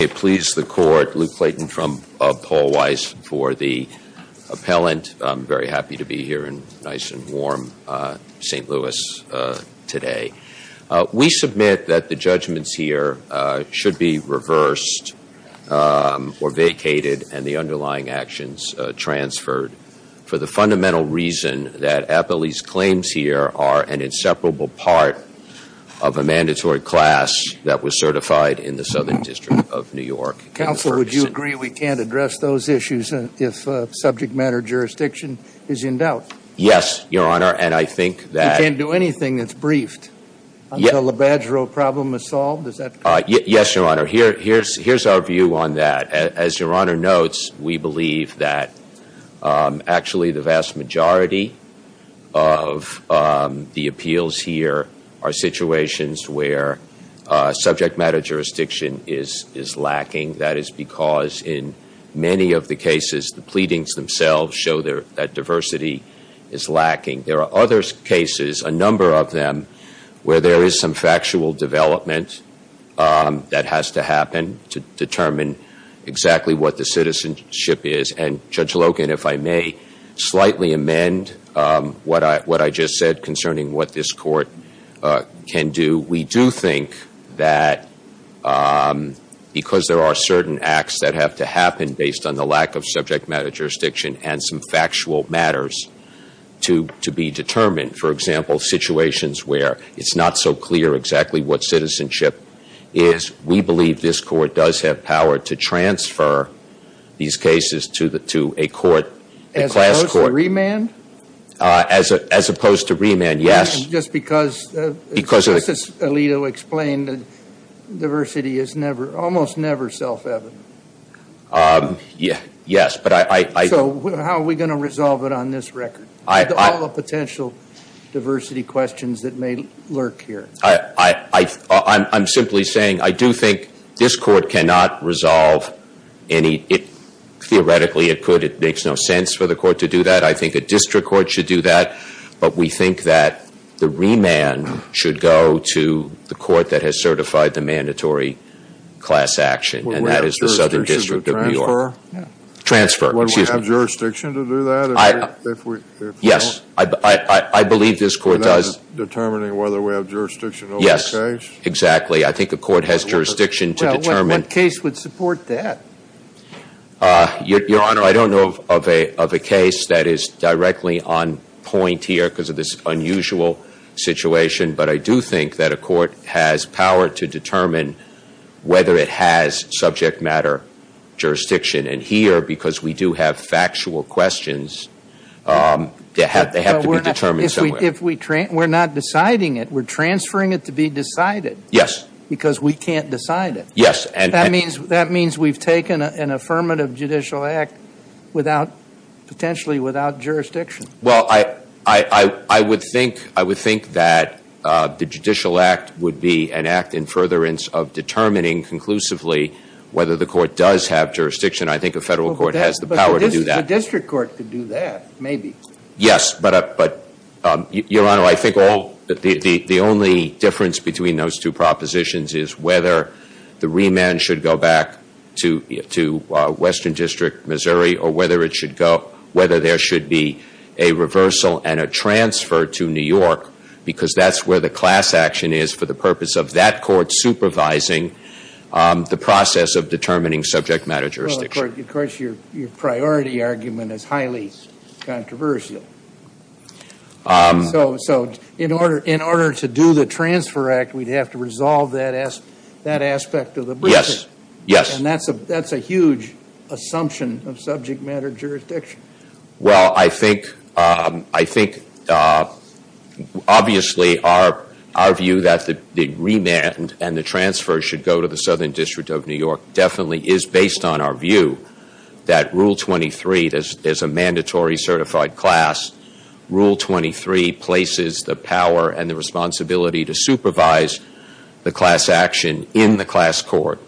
I please the Court, Luke Clayton from Paul Weiss, for the appellant. I'm very happy to be here in nice and warm St. Louis today. We submit that the judgments here should be reversed or vacated and the underlying actions transferred for the fundamental reason that Appley's claims here are an inseparable part of a mandatory class that was certified in the Southern District of New York. Counsel, would you agree we can't address those issues if subject matter jurisdiction is in doubt? Yes, Your Honor, and I think that You can't do anything that's briefed until the badger problem is solved? Yes, Your Honor. Here's our view on that. As Your Honor notes, we believe that actually the vast majority of the appeals here are situations where subject matter jurisdiction is lacking. That is because in many of the cases, the pleadings themselves show that diversity is lacking. There are other cases, a number of them, where there is some factual development that has to happen to determine exactly what the citizenship is. And Judge Logan, if I may slightly amend what I just said concerning what this Court can do, we do think that because there are certain acts that have to happen based on the lack of subject matter jurisdiction and some factual matters to be determined, for example, situations where it's not so clear exactly what citizenship is, we believe this Court does have power to transfer these cases to a court, a class court. As opposed to remand? As opposed to remand, yes. Just because Justice Alito explained that diversity is almost never self-evident. Yes. So how are we going to resolve it on this record? All the potential diversity questions that may lurk here. I'm not saying theoretically it could. It makes no sense for the Court to do that. I think a district court should do that. But we think that the remand should go to the Court that has certified the mandatory class action, and that is the Southern District of New York. Would we have jurisdiction to transfer? Transfer, excuse me. Would we have jurisdiction to do that if we don't? Yes. I believe this Court does. And that's determining whether we have jurisdiction over the case? Yes, exactly. I think the Court has jurisdiction to determine what case would support that. Your Honor, I don't know of a case that is directly on point here because of this unusual situation, but I do think that a court has power to determine whether it has subject matter jurisdiction. And here, because we do have factual questions, they have to be determined somewhere. If we're not deciding it, we're transferring it to the District Court. But the District Court has the power to do that. But the District Court could do that, maybe. Yes. But, Your Honor, I think the only difference between those two propositions is whether the remand should go back to Western District, Missouri, or whether it should go, whether there should be a reversal and a transfer to New York, because that's where the class action is for the purpose of that Court supervising the process of determining subject matter jurisdiction. Well, of course, your priority argument is that aspect of the briefing. Yes, yes. And that's a huge assumption of subject matter jurisdiction. Well, I think obviously our view that the remand and the transfer should go to the Southern District of New York definitely is based on our view that Rule 23, there's a mandatory certified class. Rule 23 places the power and the responsibility to supervise the class action in the class court.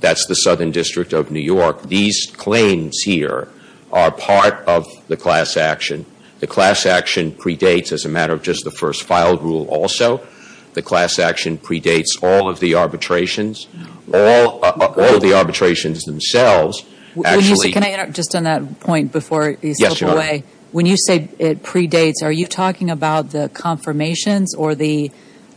That's the Southern District of New York. These claims here are part of the class action. The class action predates, as a matter of just the first filed rule also, the class action predates all of the arbitrations. All of the arbitrations themselves actually... Can I interrupt just on that point before you slip away? Yes, Your Honor. When you say it predates, are you talking about the confirmations or the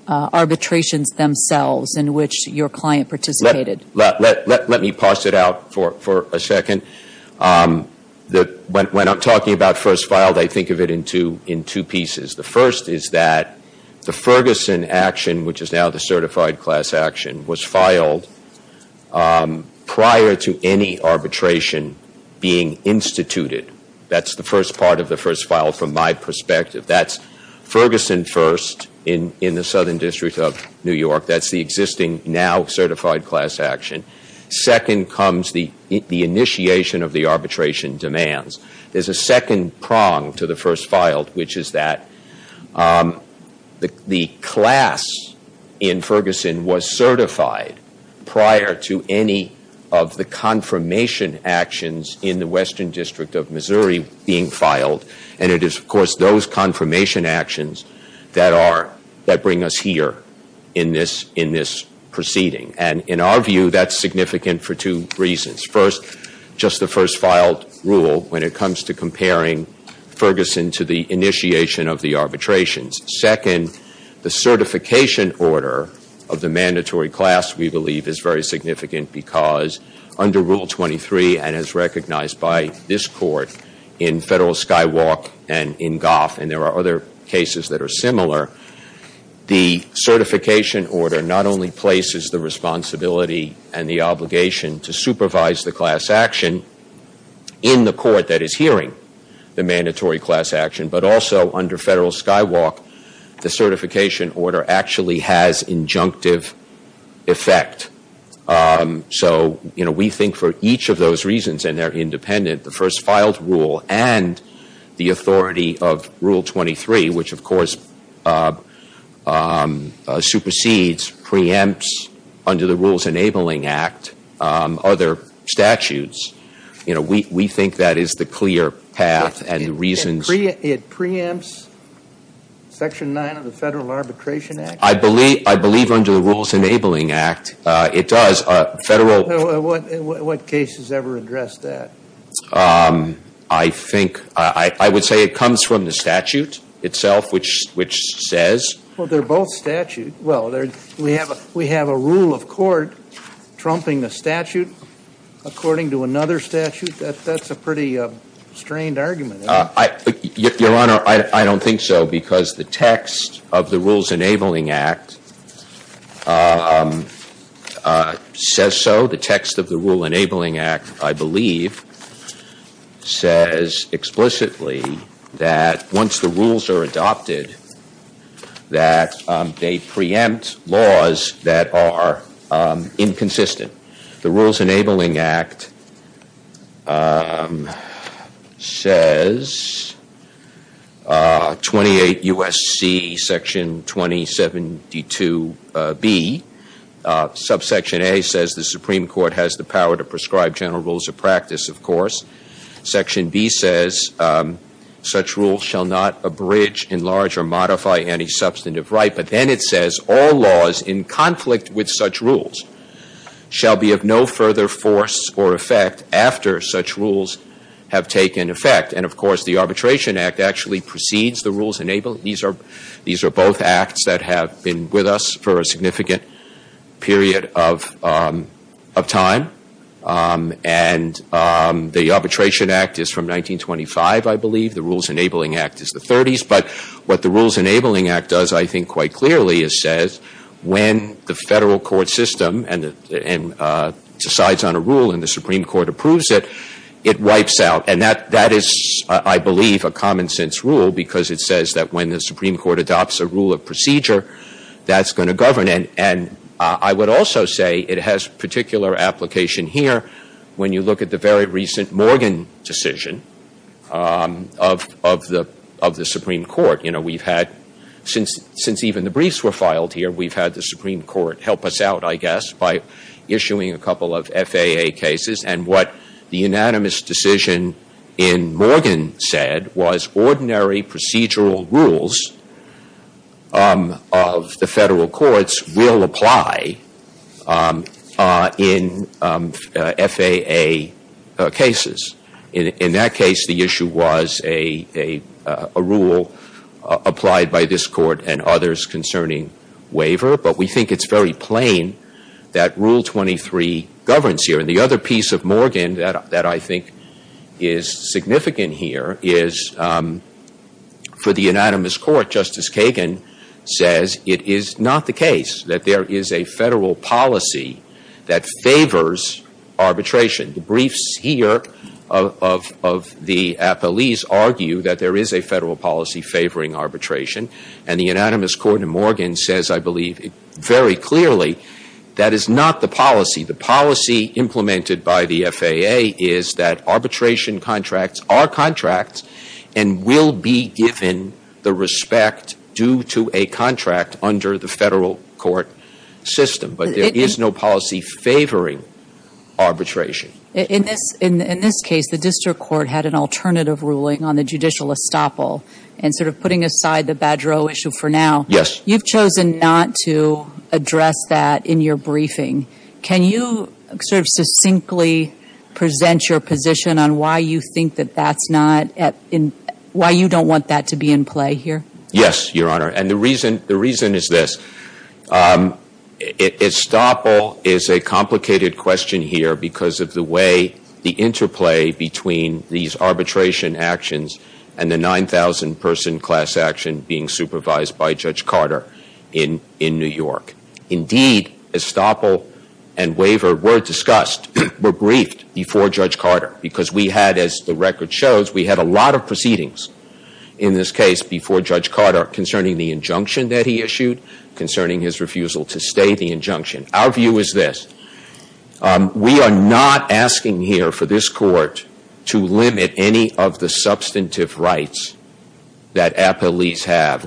arbitrations themselves in which your client participated? Let me pass it out for a second. When I'm talking about first filed, I think of it in two pieces. The first is that the Ferguson action, which is now the certified class action, was filed prior to any arbitration being instituted. That's the first part of the first file from my perspective. That's Ferguson first in the Southern District of New York. That's the existing, now certified class action. Second comes the initiation of the arbitration demands. There's a second prong to the first filed, which is that the class in Ferguson was certified prior to any of the confirmation actions in the Western District of Missouri being filed. And it is, of course, those confirmation actions that bring us here in this proceeding. And in our view, that's significant for two reasons. First, just the first filed rule when it comes to comparing Ferguson to the initiation of the arbitrations. Second, the certification order of the mandatory class, we believe, is very significant because under Rule 23 and as recognized by this Court in Federal Skywalk and in other cases that are similar, the certification order not only places the responsibility and the obligation to supervise the class action in the Court that is hearing the mandatory class action, but also under Federal Skywalk, the certification order actually has injunctive effect. So we think for each of those reasons, and they're independent, the first filed rule and the secondary, which of course supersedes, preempts under the Rules Enabling Act other statutes. We think that is the clear path and the reasons. It preempts Section 9 of the Federal Arbitration Act? I believe under the Rules Enabling Act it does. What cases ever address that? I would say it comes from the statute itself, which says. Well, they're both statutes. We have a rule of court trumping the statute according to another statute. That's a pretty strained argument. Your Honor, I don't think so because the text of the Rules Enabling Act says so. The text of the Rules Enabling Act, I believe, says explicitly that once the rules are adopted, that they preempt laws that are inconsistent. The Rules Enabling Act says, 28 U.S.C. Section 2072B. Subsection A says the Supreme Court has the power to prescribe general rules of practice, of course. Section B says such rules shall not abridge, enlarge or modify any substantive right. But then it says all laws in conflict with such rules shall be of no further force or effect after such rules have taken effect. And, of course, the Arbitration Act actually precedes the Rules Enabling. These are both acts that have been with us for a significant period of time. And the Arbitration Act is from 1925, I believe. The Rules Enabling Act is the 30s. But what the Rules Enabling Act does, I think, quite clearly, is says when the federal court system decides on a rule and the Supreme Court approves it, it wipes out. And that is, I believe, a common sense rule because it says that when the Supreme Court adopts a rule of procedure, that's going to govern it. And I would also say it has particular application here when you look at the very recent Morgan decision of the Supreme Court. You know, we've had, since even the briefs were filed here, we've had the Supreme Court help us out, I guess, by issuing a couple of FAA cases. And what the unanimous decision in Morgan said was ordinary procedural rules of the federal courts will apply in FAA cases. In that case, the issue was a rule applied by this court and others concerning waiver. But we think it's very plain that Rule 23 governs here. And the other piece of Morgan that I think is significant here is, for the unanimous court, Justice Kagan says it is not the case that there is a federal policy that favors arbitration. The briefs here of the appellees argue that there is a federal policy favoring arbitration. And the unanimous court in Morgan says, I believe, very clearly, that is not the policy. The policy implemented by the FAA is that arbitration contracts are contracts and will be given the respect due to a contract under the federal court system. But there is no policy favoring arbitration. In this case, the district court had an alternative ruling on the judicial estoppel. And sort of putting aside the Badreau issue for now, you've chosen not to address that in your briefing. Can you sort of succinctly present your position on why you think that that's not, why you don't want that to be in play here? Yes, Your Honor. And the reason is this. Estoppel is a complicated question here because of the way the interplay between these arbitration actions and the 9,000 person class action being supervised by Judge Carter in New York. Indeed, estoppel and waiver were discussed, were briefed before Judge Carter. Because we had, as the record shows, we had a lot of proceedings in this case before Judge Carter concerning the injunction that he issued, concerning his refusal to stay the injunction. Our view is this. We are not asking here for this court to limit any of the substantive rights that appellees have,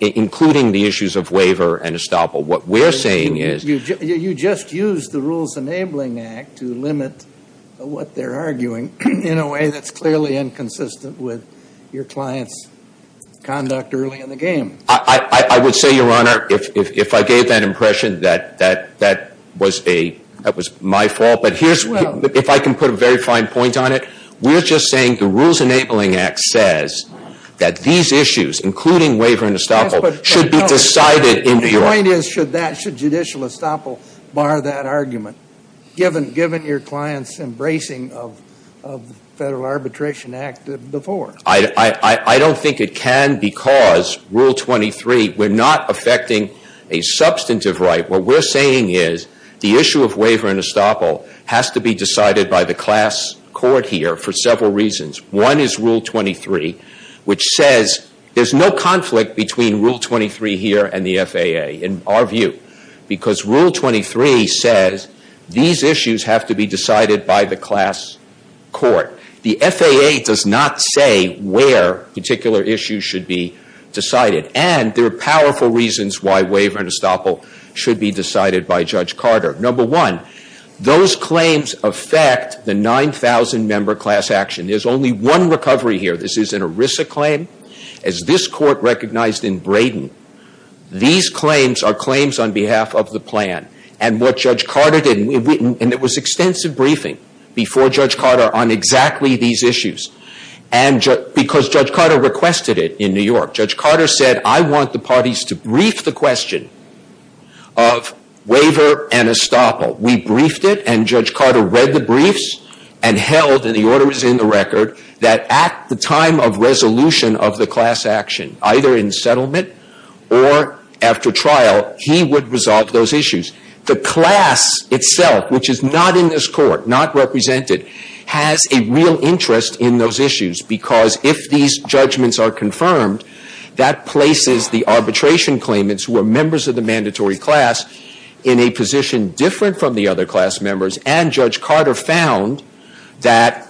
including the issues of waiver and estoppel. What we're saying is you just used the Rules Enabling Act to limit what they're arguing in a way that's clearly inconsistent with your client's conduct early in the game. I would say, Your Honor, if I gave that impression, that was my fault. But if I can put a very fine point on it, we're just saying the Rules Enabling Act says that these issues, including waiver and estoppel, should be decided in New York. The point is, should judicial estoppel bar that argument, given your client's embracing of the Federal Arbitration Act before? I don't think it can because Rule 23, we're not affecting a substantive right. What we're saying is the issue of waiver and estoppel has to be decided by the class court here for several reasons. One is Rule 23, which says there's no conflict between Rule 23 here and the FAA, in our view, because Rule 23 says these issues have to be decided by the class court. The FAA does not say where particular issues should be decided. And there are those claims affect the 9,000-member class action. There's only one recovery here. This is an ERISA claim, as this Court recognized in Braden. These claims are claims on behalf of the plan. And what Judge Carter did, and there was extensive briefing before Judge Carter on exactly these issues, because Judge Carter requested it in New York. Judge Carter said, I want the parties to brief the question of waiver and estoppel. We briefed it, and Judge Carter read the briefs and held, and the order is in the record, that at the time of resolution of the class action, either in settlement or after trial, he would resolve those issues. The class itself, which is not in this Court, not represented, has a real interest in those issues, because if these judgments are confirmed, that places the arbitration claimants, who are members of the mandatory class, in a position different from the other class members. And Judge Carter found that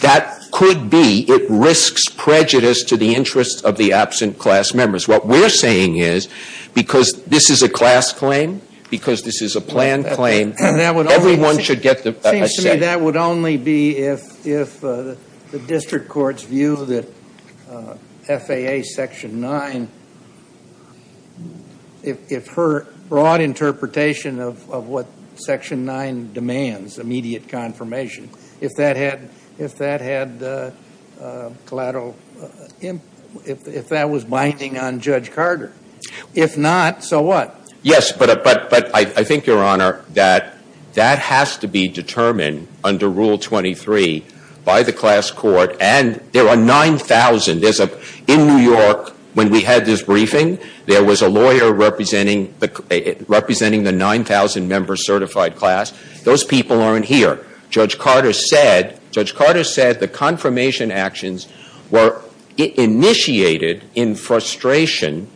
that could be, it risks prejudice to the interests of the absent class members. What we're saying is, because this is a class claim, because this is a plan claim, everyone should get a second. It seems to me that would only be if the district courts view that FAA Section 9, if her broad interpretation of what Section 9 demands, immediate confirmation, if that had collateral, if that was binding on Judge Carter. If not, so what? Yes, but I think, Your Honor, that has to be determined under Rule 23 by the class court, and there are 9,000. In New York, when we had this briefing, there was a lawyer representing the 9,000 member certified class. Those people aren't here. Judge Carter said, the confirmation actions were initiated in frustration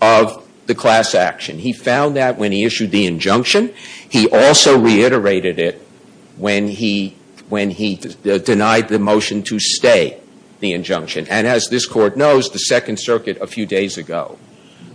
of the class action. He found that when he issued the injunction. He also reiterated it when he denied the motion to stay the injunction. And as this Court knows, the Second Circuit a few days ago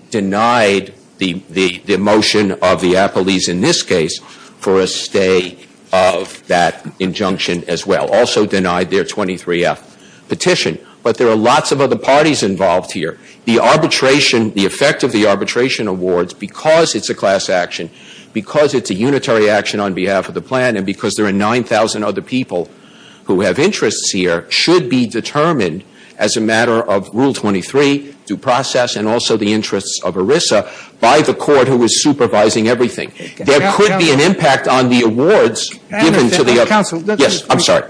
denied the motion of the Appellees in this case for a stay of that injunction as well. Also denied their 23F petition. But there are lots of other parties involved here. The arbitration, the effect of the arbitration awards, because it's a class action, because it's a unitary action on behalf of the plan, and because there are 9,000 other people who have interests here, should be determined as a matter of Rule 23, due process, and also the interests of ERISA by the Court who is supervising everything. There could be an impact on the awards given to the other. Yes, I'm sorry.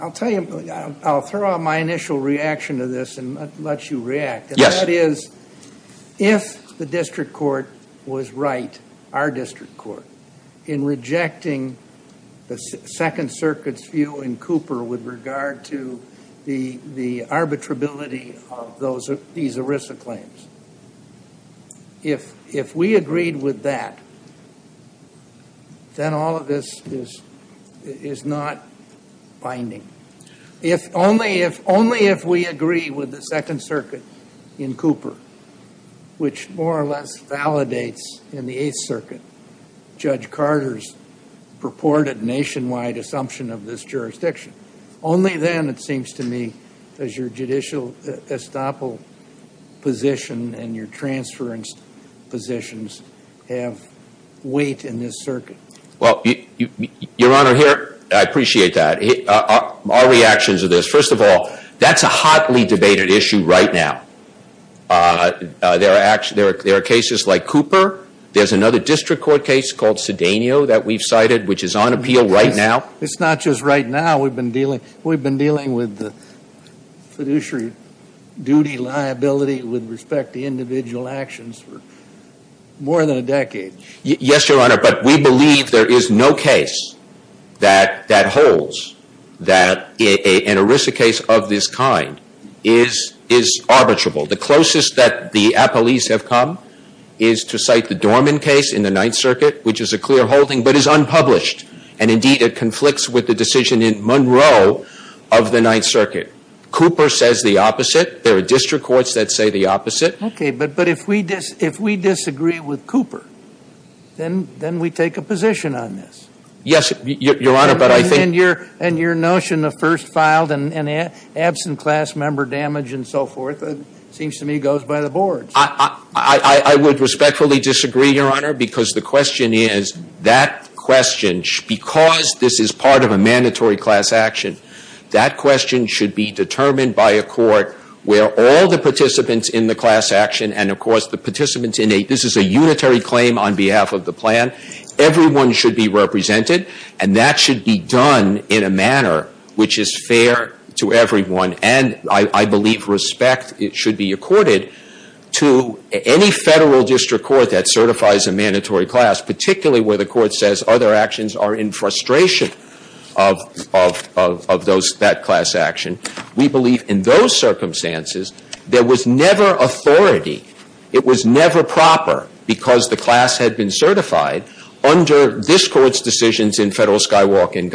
I'll tell you, I'll throw out my initial reaction to this and let you react. Yes. That is, if the District Court was right, our District Court, in rejecting the Second Circuit's view in Cooper with regard to the arbitrability of these ERISA claims, if we agreed with that, then all of this is not binding. Only if we agree with the Second Circuit in Cooper, which more or less validates in the Eighth Circuit, Judge Carter's purported nationwide assumption of this jurisdiction. Only then, it seems to me, does your judicial estoppel position and your transference positions have weight in this circuit? Well, Your Honor, here, I appreciate that. Our reactions to this, first of all, that's a hotly debated issue right now. There are cases like Cooper. There's another District Court case called Sedanio that we've cited, which is on appeal right now. It's not just right now. We've been dealing with the fiduciary duty liability with respect to individual actions for more than a decade. Yes, Your Honor, but we believe there is no case that holds that an ERISA case of this kind is arbitrable. The closest that the appellees have come is to cite the Dorman case in the Ninth Circuit, which is a the opposite. There are District Courts that say the opposite. Okay, but if we disagree with Cooper, then we take a position on this. Yes, Your Honor, but I think... And your notion of first filed and absent class member damage and so forth, it seems to me, goes by the boards. I would respectfully disagree, Your Honor, because the question is, that question, because this is part of a mandatory class action, that question should be determined by a court where all the participants in the class action and, of course, the participants in a... This is a unitary claim on behalf of the plan. Everyone should be represented, and that should be done in a manner which is fair to everyone. And I believe respect should be accorded to any Federal District Court that certifies a mandatory class, particularly where the court says other actions are in frustration of that class action. We believe in those circumstances, there was never authority. It was never proper, because the class had been certified, under this Court's decisions in Federal Skywalk and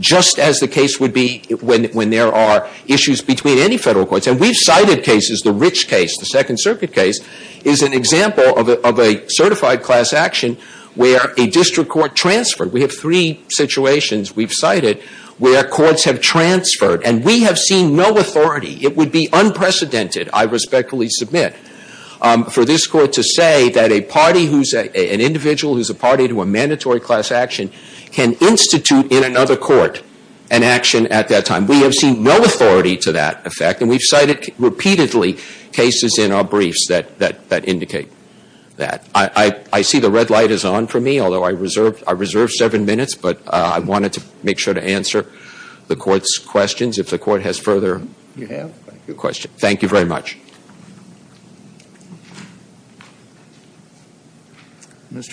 just as the case would be when there are issues between any Federal courts. And we've cited cases, the Rich case, the Second Circuit case, is an example of a certified class action where a District Court transferred. We have three situations we've cited where courts have transferred, and we have seen no authority. It would be unprecedented, I respectfully submit, for this Court to say that a individual who is a party to a mandatory class action can institute in another court an action at that time. We have seen no authority to that effect, and we've cited repeatedly cases in our briefs that indicate that. I see the red light is on for me, although I reserve seven minutes, but I wanted to make sure to answer the Court's questions. If the Court has further... Mr.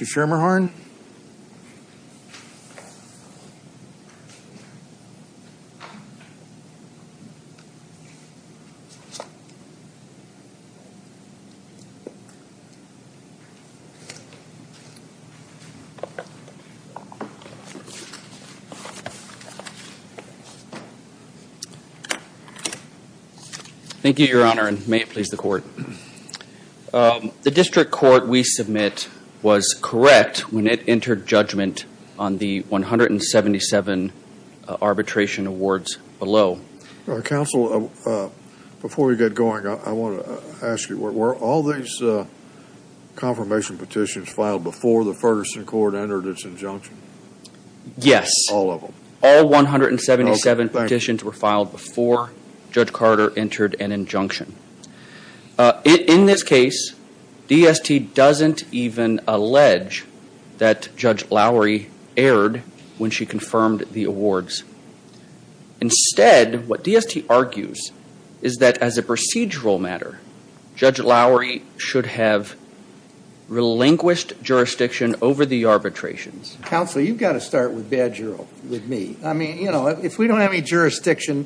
Schermerhorn? Thank you, Your Honor, and may it please the Court. The District Court we submit was correct when it entered judgment on the case. Before we get going, I want to ask you, were all these confirmation petitions filed before the Ferguson Court entered its injunction? Yes. All of them. All 177 petitions were filed before Judge Carter entered an injunction. In this case, DST doesn't even allege that Judge Lowry erred when she confirmed the awards. Instead, what DST argues is that as a procedural matter, Judge Lowry should have relinquished jurisdiction over the arbitrations. Counsel, you've got to start with Badgerow with me. I mean, you know, if we don't have any jurisdiction,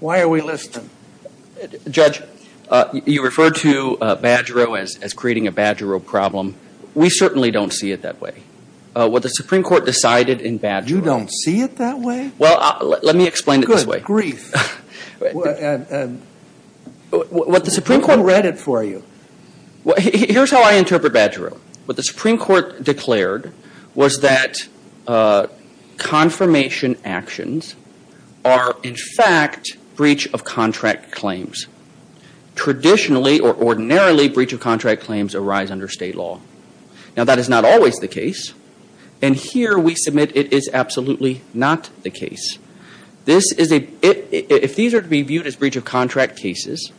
why are we listening? Judge, you referred to Badgerow as creating a Badgerow problem. We certainly don't see it that way. What the Supreme Court decided in Badgerow... You don't see it that way? Well, let me explain it this way. Good grief. What the Supreme Court... Who read it for you? Here's how I interpret Badgerow. What the Supreme Court declared was that confirmation actions are, in fact, breach of contract claims. Traditionally, or ordinarily, breach of contract claims arise under state law. Now, that is not always the case. And here we submit it is absolutely not the case. If these are to be viewed as breach of contract cases,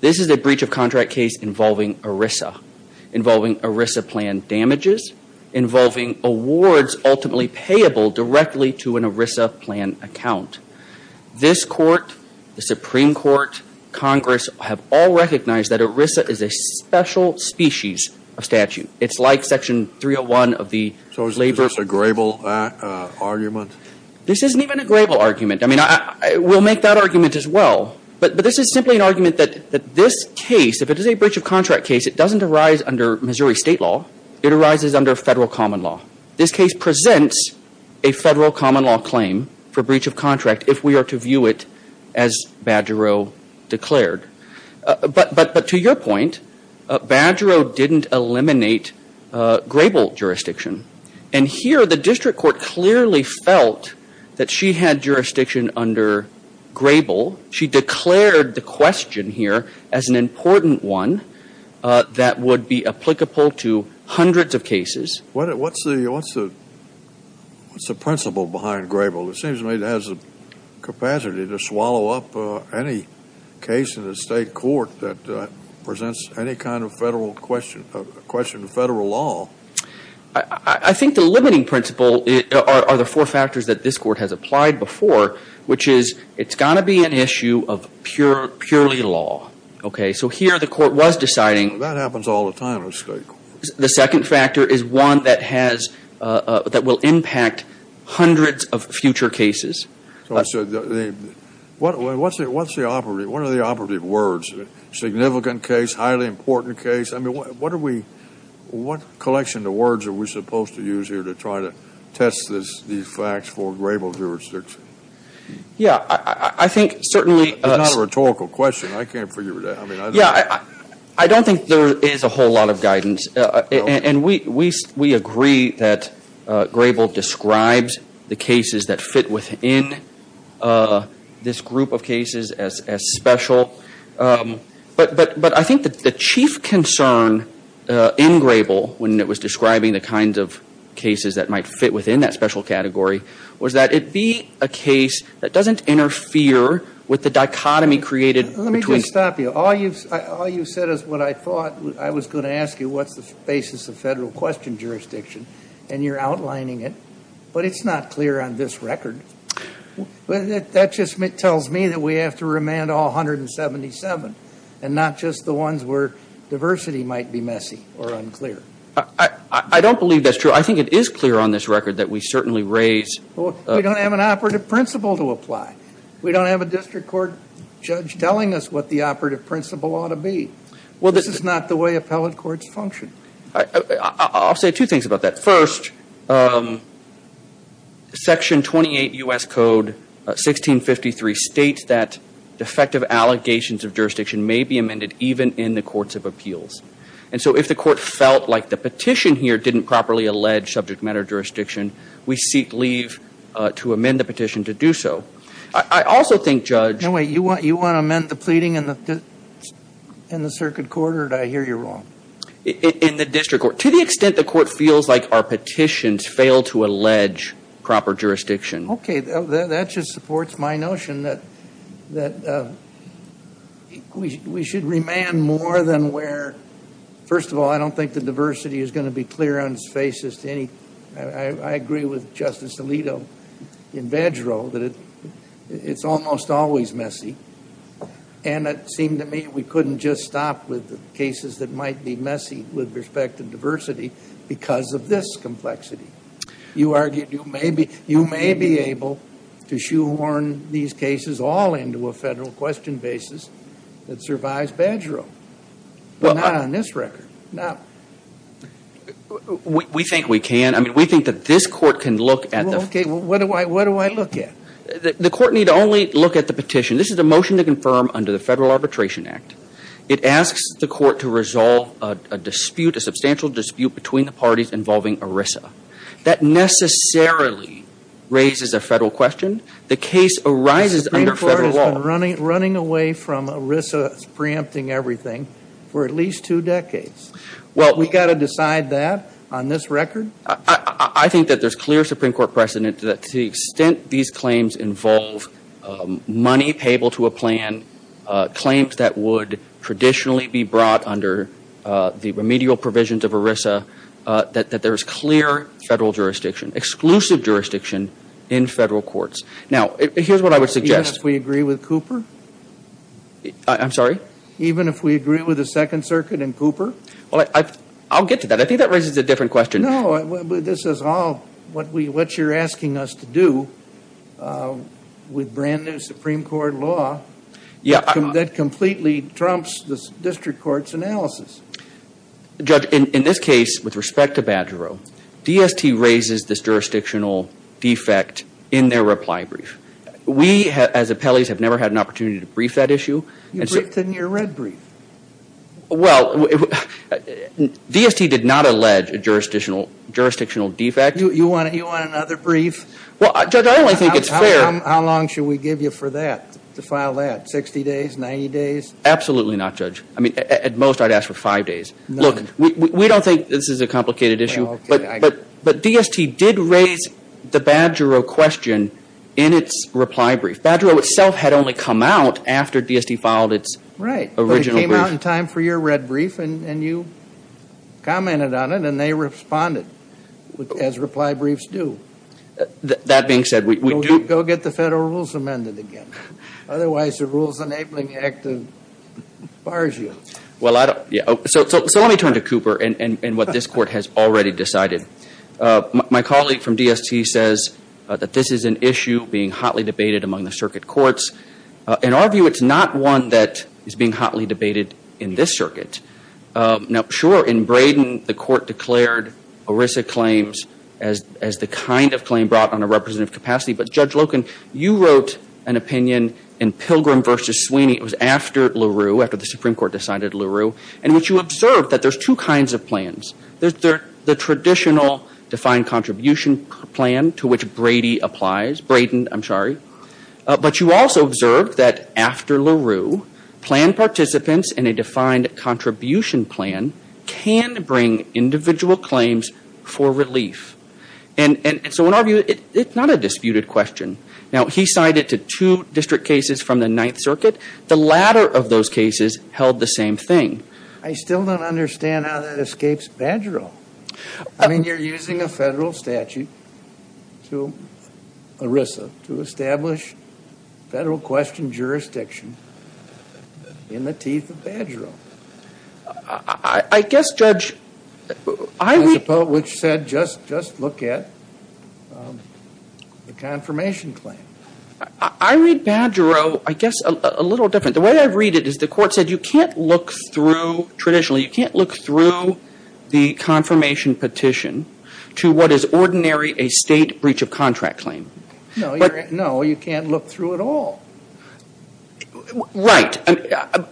this is a breach of contract case involving ERISA, involving ERISA plan damages, involving awards ultimately payable directly to an ERISA plan account. This Court, the Supreme Court, Congress have all recognized that ERISA is a special species of statute. It's like Section 301 of the labor... So is this a grable argument? This isn't even a grable argument. I mean, we'll make that argument as well. But this is simply an argument that this case, if it is a breach of contract case, it doesn't arise under Missouri state law. It arises under federal common law. This case presents a federal common law claim for breach of contract if we are to view it as Badgerow declared. But to your point, Badgerow didn't eliminate grable jurisdiction. And here the district court clearly felt that she had jurisdiction under grable. She declared the question here as an important one that would be applicable to hundreds of cases. What's the principle behind grable? It seems to me it has the capacity to swallow up any case in the state court that presents any kind of question of federal law. I think the limiting principle are the four factors that this court has applied before, which is it's going to be an issue of purely law. Okay. So here the court was deciding... That happens all the time in the state court. The second factor is one that has impact hundreds of future cases. What are the operative words? Significant case? Highly important case? I mean, what are we... What collection of words are we supposed to use here to try to test these facts for grable jurisdiction? Yeah, I think certainly... It's not a rhetorical question. I can't figure it out. I don't think there is a whole lot of guidance. And we agree that grable describes the cases that fit within this group of cases as special. But I think the chief concern in grable, when it was describing the kinds of cases that might fit within that special category, was that it be a case that doesn't interfere with the dichotomy created between... Let me just stop you. All you've said is what I thought I was going to ask you, what's the basis of federal question jurisdiction? And you're outlining it. But it's not clear on this record. That just tells me that we have to remand all 177 and not just the ones where diversity might be messy or unclear. I don't believe that's true. I think it is clear on this record that we certainly raise... We don't have an operative principle to apply. We don't have a district court judge telling us what the operative principle ought to be. This is not the way appellate courts function. I'll say two things about that. First, Section 28 U.S. Code 1653 states that defective allegations of jurisdiction may be amended even in the courts of appeals. And so if the court felt like the petition here didn't properly allege subject matter jurisdiction, we seek leave to amend the petition to do so. I also think, Judge... No, wait. You want to amend the pleading in the circuit court or did I hear you wrong? In the district court. To the extent the court feels like our petitions fail to amend, we should remand more than where... First of all, I don't think the diversity is going to be clear on its faces to any... I agree with Justice Alito in Vedro that it's almost always messy. And it seemed to me we couldn't just stop with the cases that might be messy with respect to diversity because of this complexity. You argued you may be able to shoehorn these cases all into a federal question basis that survives Vedro, but not on this record. We think we can. We think that this court can look at... What do I look at? The court need only look at the petition. This is a motion to confirm under the Federal Arbitration Act. It asks the court to resolve a dispute, a substantial dispute between the parties involving ERISA. That necessarily raises a federal question. The case arises under federal law. The Supreme Court has been running away from ERISA preempting everything for at least two decades. We've got to decide that on this record? I think that there's clear Supreme Court precedent that to the extent these claims involve money payable to a plan, claims that would traditionally be brought under the remedial provisions of ERISA, that there's clear federal jurisdiction, exclusive jurisdiction in federal courts. Now, here's what I would suggest. Even if we agree with Cooper? I'm sorry? Even if we agree with the Second Circuit and Cooper? I'll get to that. I think that raises a different question. No, this is all what you're asking us to do with brand new Supreme Court law that completely trumps the district court's analysis. Judge, in this case, with respect to Badgerow, DST raises this jurisdictional defect in their reply brief. We, as appellees, have never had an opportunity to brief that issue. You briefed in your red brief. Well, DST did not allege a jurisdictional defect. You want another brief? Judge, I only think it's fair. How long should we give you for that, to file that? Sixty days? Ninety days? Absolutely not, Judge. At most, I'd ask for five days. We don't think this is a complicated issue, but DST did raise the Badgerow question in its reply brief. Badgerow itself had only come out after DST filed its original brief. Right, but it came out in time for your red brief, and you commented on it, and they responded, as reply briefs do. That being said, we do... Go get the federal rules amended again. Otherwise, the Rules Enabling Act bars you. So let me turn to Cooper and what this Court has already decided. My colleague from DST says that this is an issue being hotly debated among the circuit courts. In our view, it's not one that is being hotly debated in this circuit. Now, sure, in Braden, the Court declared ERISA claims as the kind of claim brought on a representative capacity, but Judge Loken, you wrote an opinion in Pilgrim v. Sweeney. It was after LaRue, after the Supreme Court decided LaRue, in which you observed that there's two kinds of plans. There's the traditional defined contribution plan to which Brady applies. Braden, I'm sorry. But you also observed that after LaRue, plan participants in a defined contribution plan can bring individual claims for relief. And so in our view, it's not a disputed question. Now, he cited to two district cases from the Ninth Circuit. The latter of those cases held the same thing. I still don't understand how that escapes Badgerill. I mean, you're using a federal statute to ERISA to establish federal question jurisdiction in the teeth of Badgerill. I guess, Judge, I read... Which said just look at the confirmation claim. I read Badgerill, I guess, a little different. The way I read it is the Court said you can't look through, traditionally, you can't look through the confirmation petition to what is ordinary a state breach of contract claim. No, you can't look through it all. Right.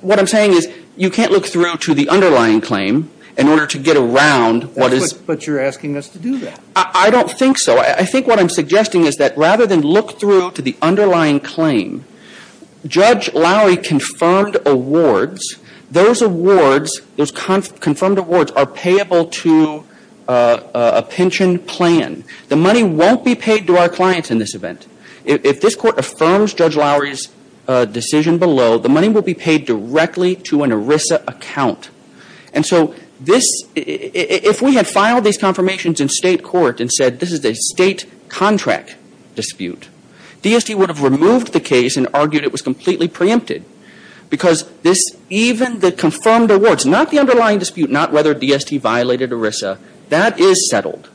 What I'm saying is you can't look through to the underlying claim in order to get around what is... But you're asking us to do that. I don't think so. I think what I'm suggesting is that rather than look through to the underlying claim, Judge Lowry confirmed awards. Those awards, those confirmed awards are payable to a pension plan. The money won't be paid to our clients in this event. If this Court affirms Judge Lowry's decision below, the money will be paid directly to an ERISA account. And so this, if we had filed these confirmations in state court and said this is a state contract dispute, DST would have removed the case and argued it was completely preempted. Because this, even the confirmed awards, not the underlying dispute, not whether DST violated ERISA, that is settled.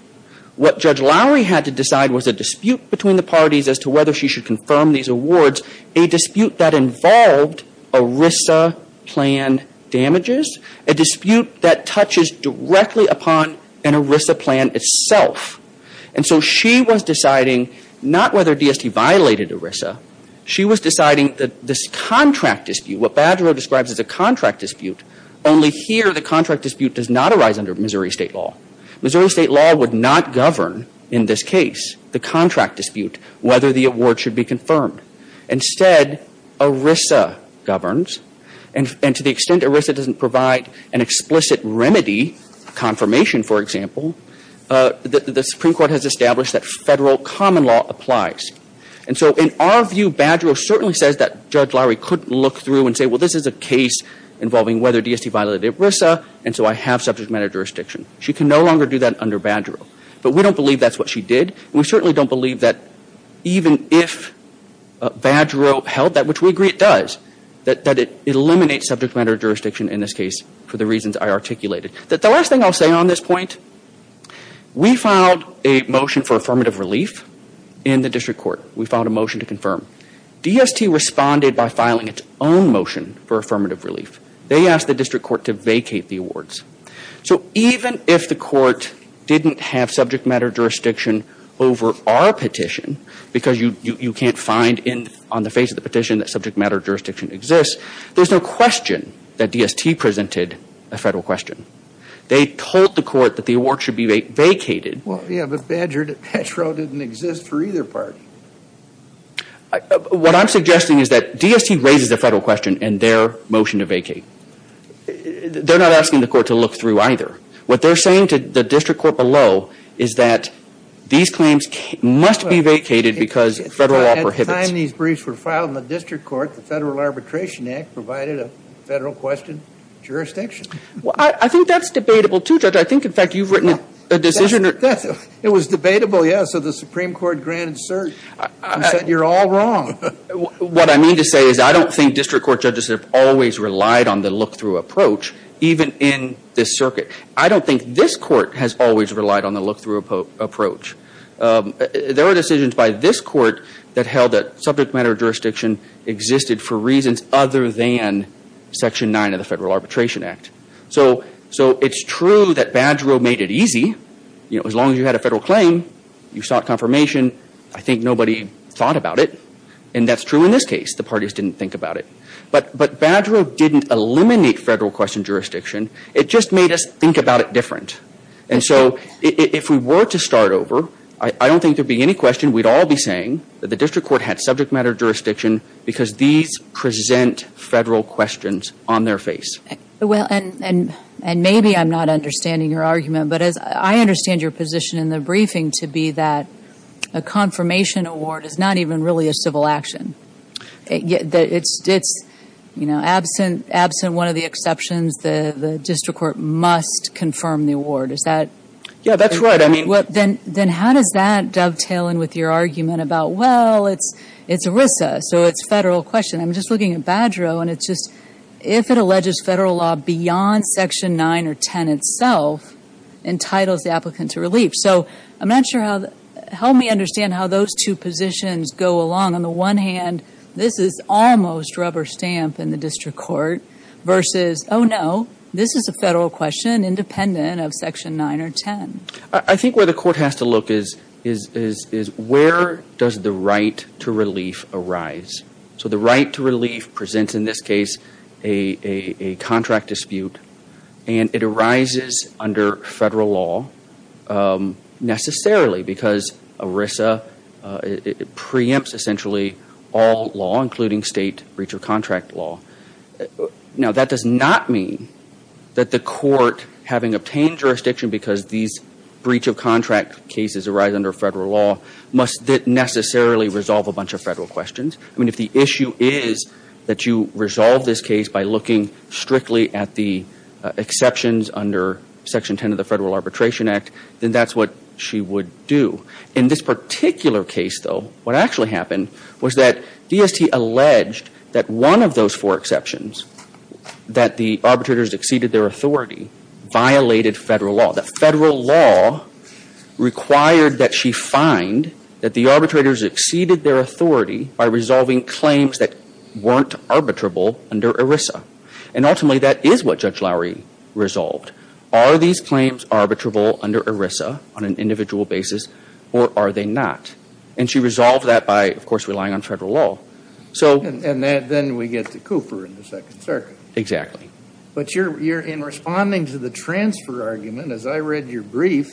What Judge Lowry had to decide was a dispute between the parties as to whether she should confirm these awards, a dispute that involved ERISA plan damages, a dispute that touches directly upon an ERISA plan itself. And so she was deciding not whether DST violated ERISA. She was deciding that this contract dispute, what Badgerow describes as a contract dispute, only here the contract dispute does not arise under Missouri State law. Missouri State law would not govern in this case the contract dispute, whether the award should be confirmed. Instead, ERISA governs. And to the extent that we can remedy confirmation, for example, the Supreme Court has established that federal common law applies. And so in our view, Badgerow certainly says that Judge Lowry couldn't look through and say, well, this is a case involving whether DST violated ERISA, and so I have subject matter jurisdiction. She can no longer do that under Badgerow. But we don't believe that's what she did. And we certainly don't believe that even if she did subject matter jurisdiction in this case for the reasons I articulated. The last thing I'll say on this point, we filed a motion for affirmative relief in the district court. We filed a motion to confirm. DST responded by filing its own motion for affirmative relief. They asked the district court to vacate the awards. So even if the court didn't have subject matter jurisdiction over our petition, because you can't find on the face of the petition that subject matter jurisdiction exists, there's no question that DST presented a federal question. They told the court that the awards should be vacated. Well, yeah, but Badgerow didn't exist for either party. What I'm suggesting is that DST raises a federal question in their motion to vacate. They're not asking the court to look through either. What they're saying to the district court below is that these claims must be vacated because federal law prohibits. At the time these briefs were filed in the district court, the Federal Arbitration Act provided a federal question jurisdiction. I think that's debatable, too, Judge. I think, in fact, you've written a decision. It was debatable, yeah. So the Supreme Court granted cert. You said you're all wrong. What I mean to say is I don't think district court judges have always relied on the look-through approach, even in this circuit. I don't think this court has always relied on the look-through approach. There were decisions by this court that held that subject matter jurisdiction existed for reasons other than Section 9 of the Federal Arbitration Act. So it's true that Badgerow made it easy. As long as you had a federal claim, you sought confirmation. I think nobody thought about it. And that's true in this case. The parties didn't think about it. But Badgerow didn't eliminate federal question jurisdiction. It just made us think about it different. And so if we were to start over, I don't think there would be any question. We'd all be saying that the district court had subject matter jurisdiction because these present federal questions on their face. And maybe I'm not understanding your argument, but I understand your position in the briefing to be that a confirmation award is not even really a civil action. It's, you know, absent one of the exceptions, the district court must confirm the award. Is that... Yeah, that's right. I mean... Then how does that dovetail in with your argument about, well, it's a federal question. I'm just looking at Badgerow, and it's just, if it alleges federal law beyond Section 9 or 10 itself, entitles the applicant to relief. So I'm not sure how... Help me understand how those two positions go along. On the one hand, this is almost rubber stamp in the district court versus, oh no, this is a federal question independent of Section 9 or 10. I think where the court has to look is where does the right to relief arise? So the right to relief presents, in this case, a contract dispute, and it arises under federal law necessarily because ERISA preempts essentially all law, including state breach of contract law. Now, that does not mean that the court, having obtained jurisdiction because these breach of contract cases arise under federal law, must necessarily resolve a bunch of federal questions. I mean, if the issue is that you resolve this case by looking strictly at the exceptions under Section 10 of the Federal Arbitration Act, then that's what she would do. In this particular case, though, what actually happened was that DST alleged that one of those four exceptions, that the arbitrators exceeded their authority, violated federal law. The federal law required that she find that the arbitrators exceeded their authority by resolving claims that weren't arbitrable under ERISA. And ultimately, that is what Judge O'Connor did. She said, are these claims under ERISA on an individual basis, or are they not? And she resolved that by, of course, relying on federal law. And then we get to Cooper in the Second Circuit. Exactly. But in responding to the transfer argument, as I read your brief,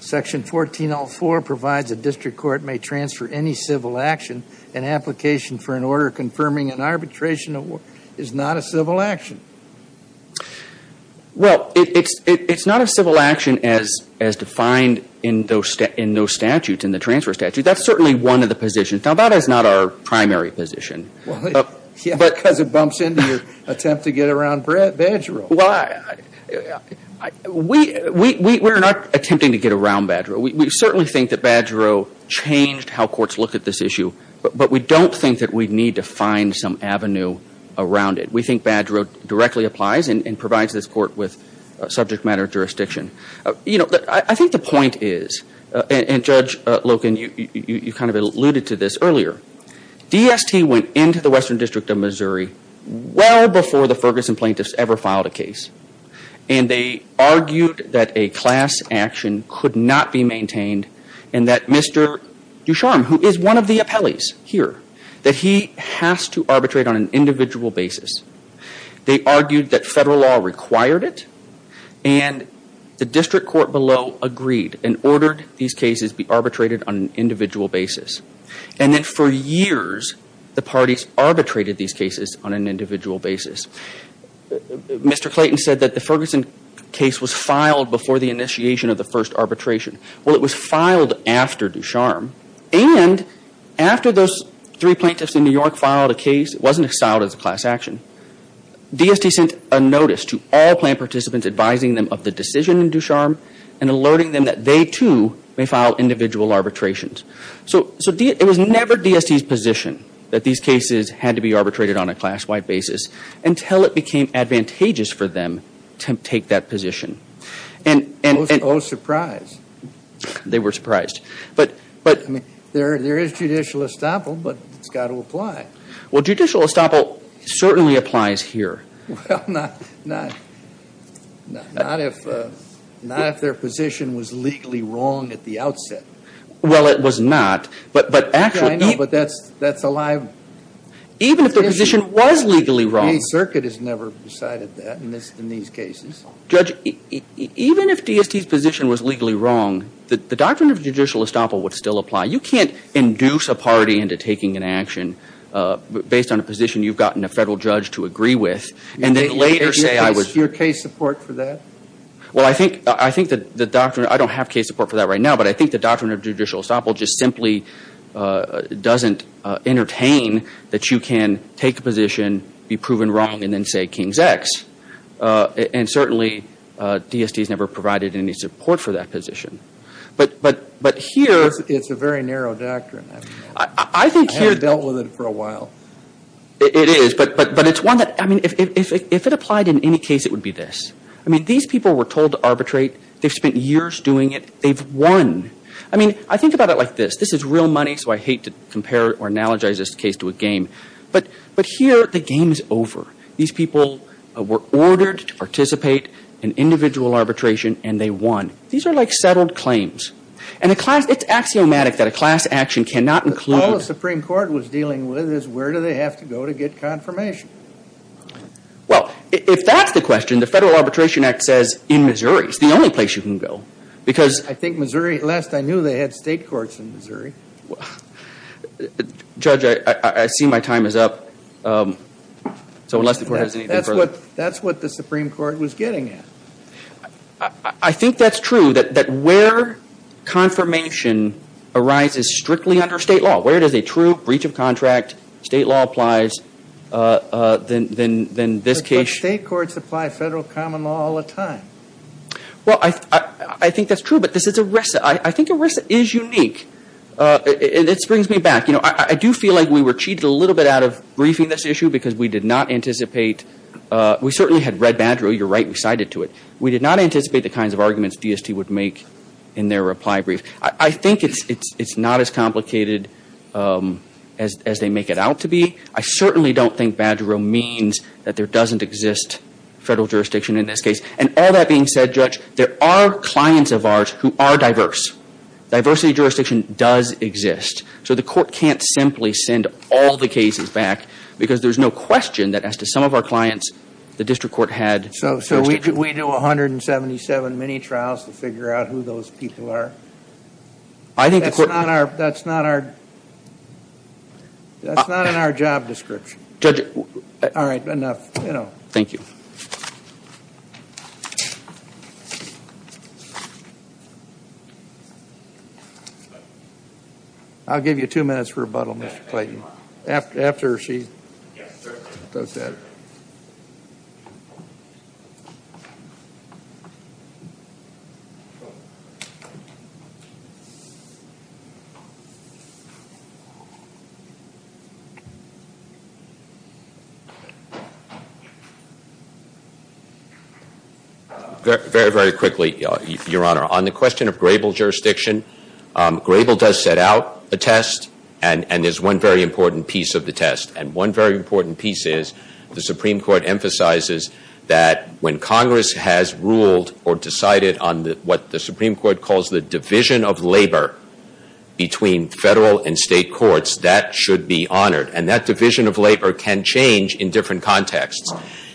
Section 1404 provides a district court may transfer any civil action. An application for an order confirming an arbitration is not a civil action. Well, it's not a civil action as defined in those statutes, in the transfer statute. That's certainly one of the positions. Now, that is not our primary position. Because it bumps into your attempt to get around Badgero. We're not attempting to get around Badgero. We certainly think that Badgero changed how courts look at this issue. But we don't think that we need to find some avenue around it. We think Badgero directly applies and provides this court with subject matter jurisdiction. I think the point is, and Judge Loken, you kind of alluded to this earlier, DST went into the Western District of Missouri well before the Ferguson plaintiffs ever filed a case. And they argued that a class action could not be maintained and that Mr. Ducharme, who is one of the appellees here, that he has to arbitrate on an individual basis. They argued that federal law required it and the district court below agreed and ordered these cases be arbitrated on an individual basis. And then for years, the parties arbitrated these cases on an individual basis. Mr. Clayton said that the Ferguson case was filed before the initiation of the first arbitration. Well, it was filed after Ducharme. And after those three plaintiffs in New York filed a case, it wasn't filed as a class action. DST sent a notice to all plaintiff participants advising them of the decision in Ducharme and alerting them that they too may file individual arbitrations. So it was never DST's position that these cases had to be arbitrated on a class-wide basis until it became advantageous for them to take that position. Oh, surprise. They were surprised. There is judicial estoppel, but it's got to apply. Well, judicial estoppel certainly applies here. Well, not if their position was legally wrong at the outset. Well, it was not. But that's a lie. Even if their position was legally wrong. The circuit has never decided that in these cases. Judge, even if DST's position was legally wrong, the doctrine of judicial estoppel would still apply. You can't induce a party into taking an action based on a position you've gotten a federal judge to agree with and then later say I was... Is there case support for that? Well, I think the doctrine, I don't have case support for that right now, but I think the doctrine of judicial estoppel just simply doesn't entertain that you can take a position, be proven wrong, and then say King's X. And certainly DST's never provided any support for that position. But here... It's a very narrow doctrine. I haven't dealt with it for a while. It is, but it's one that, I mean, if it applied in any case, it would be this. I mean, these people were told to arbitrate. They've spent years doing it. They've won. I mean, I think about it like this. This is real money, so I hate to compare or analogize this case to a game. But here the game is over. These people were ordered to participate in individual arbitration, and they won. These are like settled claims. And it's axiomatic that a class action cannot include... All the Supreme Court was dealing with is where do they have to go to get confirmation? Well, if that's the question, the Federal Arbitration Act says in Missouri. It's the only place you can go. I think Missouri, last I knew they had state courts in Missouri. Judge, I see my time is up. So unless the court has anything further... That's what the Supreme Court was getting at. I think that's true, that where confirmation arises strictly under state law, where it is a true breach of contract, state law applies, then this case... State courts apply federal common law all the time. Well, I think that's true, but this is ERISA. I think ERISA is unique. And this brings me back. I do feel like we were cheated a little bit out of briefing this issue because we did not anticipate... We certainly had read Badgerill. You're right, we cited to it. We did not anticipate the kinds of arguments DST would make in their reply brief. I think it's not as complicated as they make it out to be. I certainly don't think Badgerill means that there doesn't exist federal jurisdiction in this case. And all that being said, Judge, there are clients of ours who are diverse. Diversity jurisdiction does exist. So the court can't simply send all the cases back because there's no question that as to some of our clients, the district court had jurisdiction. So we do 177 mini-trials to figure out who those people are? That's not in our job description. All right. Enough. Thank you. I'll give you two minutes for rebuttal, Mr. Clayton. Very, very quickly, Your Honor. On the question of Grable jurisdiction, Grable does set out a test and there's one very important piece of the test. And one very important piece is the Supreme Court emphasizes that when Congress has ruled or decided on what the Supreme Court calls the division of labor between federal and state courts, that should be honored. And that division of labor can change in different contexts.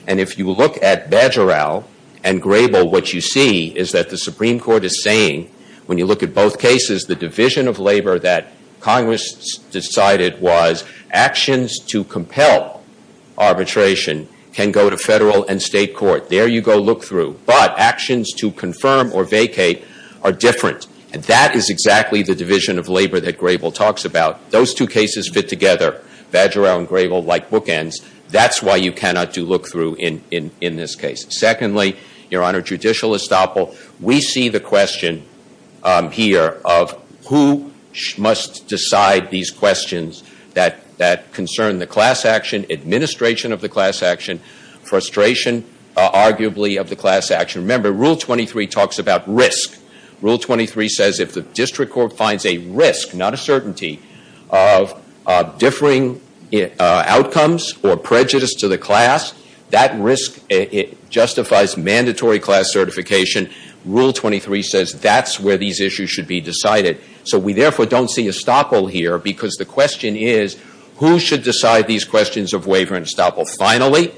And if you look at Bajoral and Grable, what you see is that the Supreme Court is saying when you look at both cases, the division of labor that Congress decided was actions to compel arbitration can go to federal and state court. There you go look through. But actions to confirm or vacate are different. And that is exactly the division of labor that Grable talks about. Those two cases fit Grable like bookends. That's why you cannot do look through in this case. Secondly, Your Honor, judicial estoppel, we see the question here of who must decide these questions that concern the class action, administration of the class action, frustration arguably of the class action. Remember, Rule 23 talks about risk. Rule 23 says if the district court finds a risk, not a certainty, of differing outcomes or prejudice to the class, that risk justifies mandatory class certification. Rule 23 says that's where these issues should be decided. So we therefore don't see estoppel here because the question is who should decide these questions of waiver and estoppel. Finally,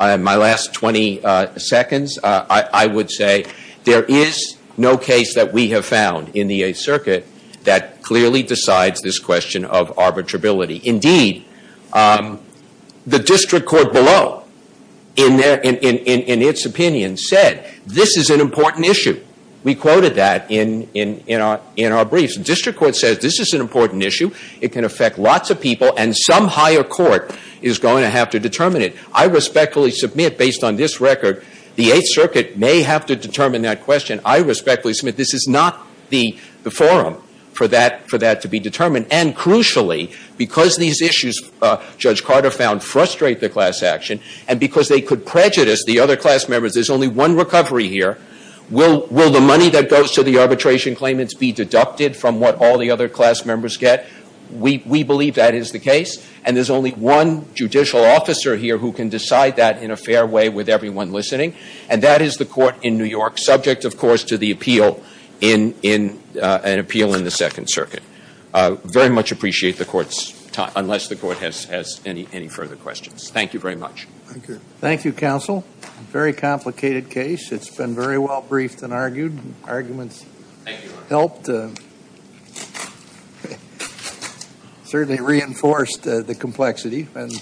in my last 20 seconds, I would say there is no case that we have found in the Eighth Circuit that clearly decides this question of arbitrability. Indeed, the district court below in its opinion said this is an important issue. We quoted that in our briefs. The district court says this is an important issue. It can affect lots of people and some higher court is going to have to determine it. I respectfully submit, based on this record, the Eighth Circuit may have to determine that question. I respectfully submit this is not the forum for that to be determined. And crucially, because these issues Judge Carter found frustrate the class action and because they could prejudice the other class members, there's only one recovery here. Will the money that goes to the arbitration claimants be deducted from what all the other class members get? We believe that is the case. And there's only one judicial officer here who can decide that in a fair way with everyone listening. And that is the court in New York, subject of course to the appeal in an appeal in the Second Circuit. Very much appreciate the court's time, unless the court has any further questions. Thank you very much. Thank you, counsel. Very complicated case. It's been very well briefed and argued. Arguments helped. Certainly reinforced the complexity and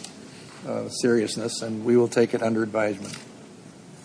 seriousness and we will take it under advisement.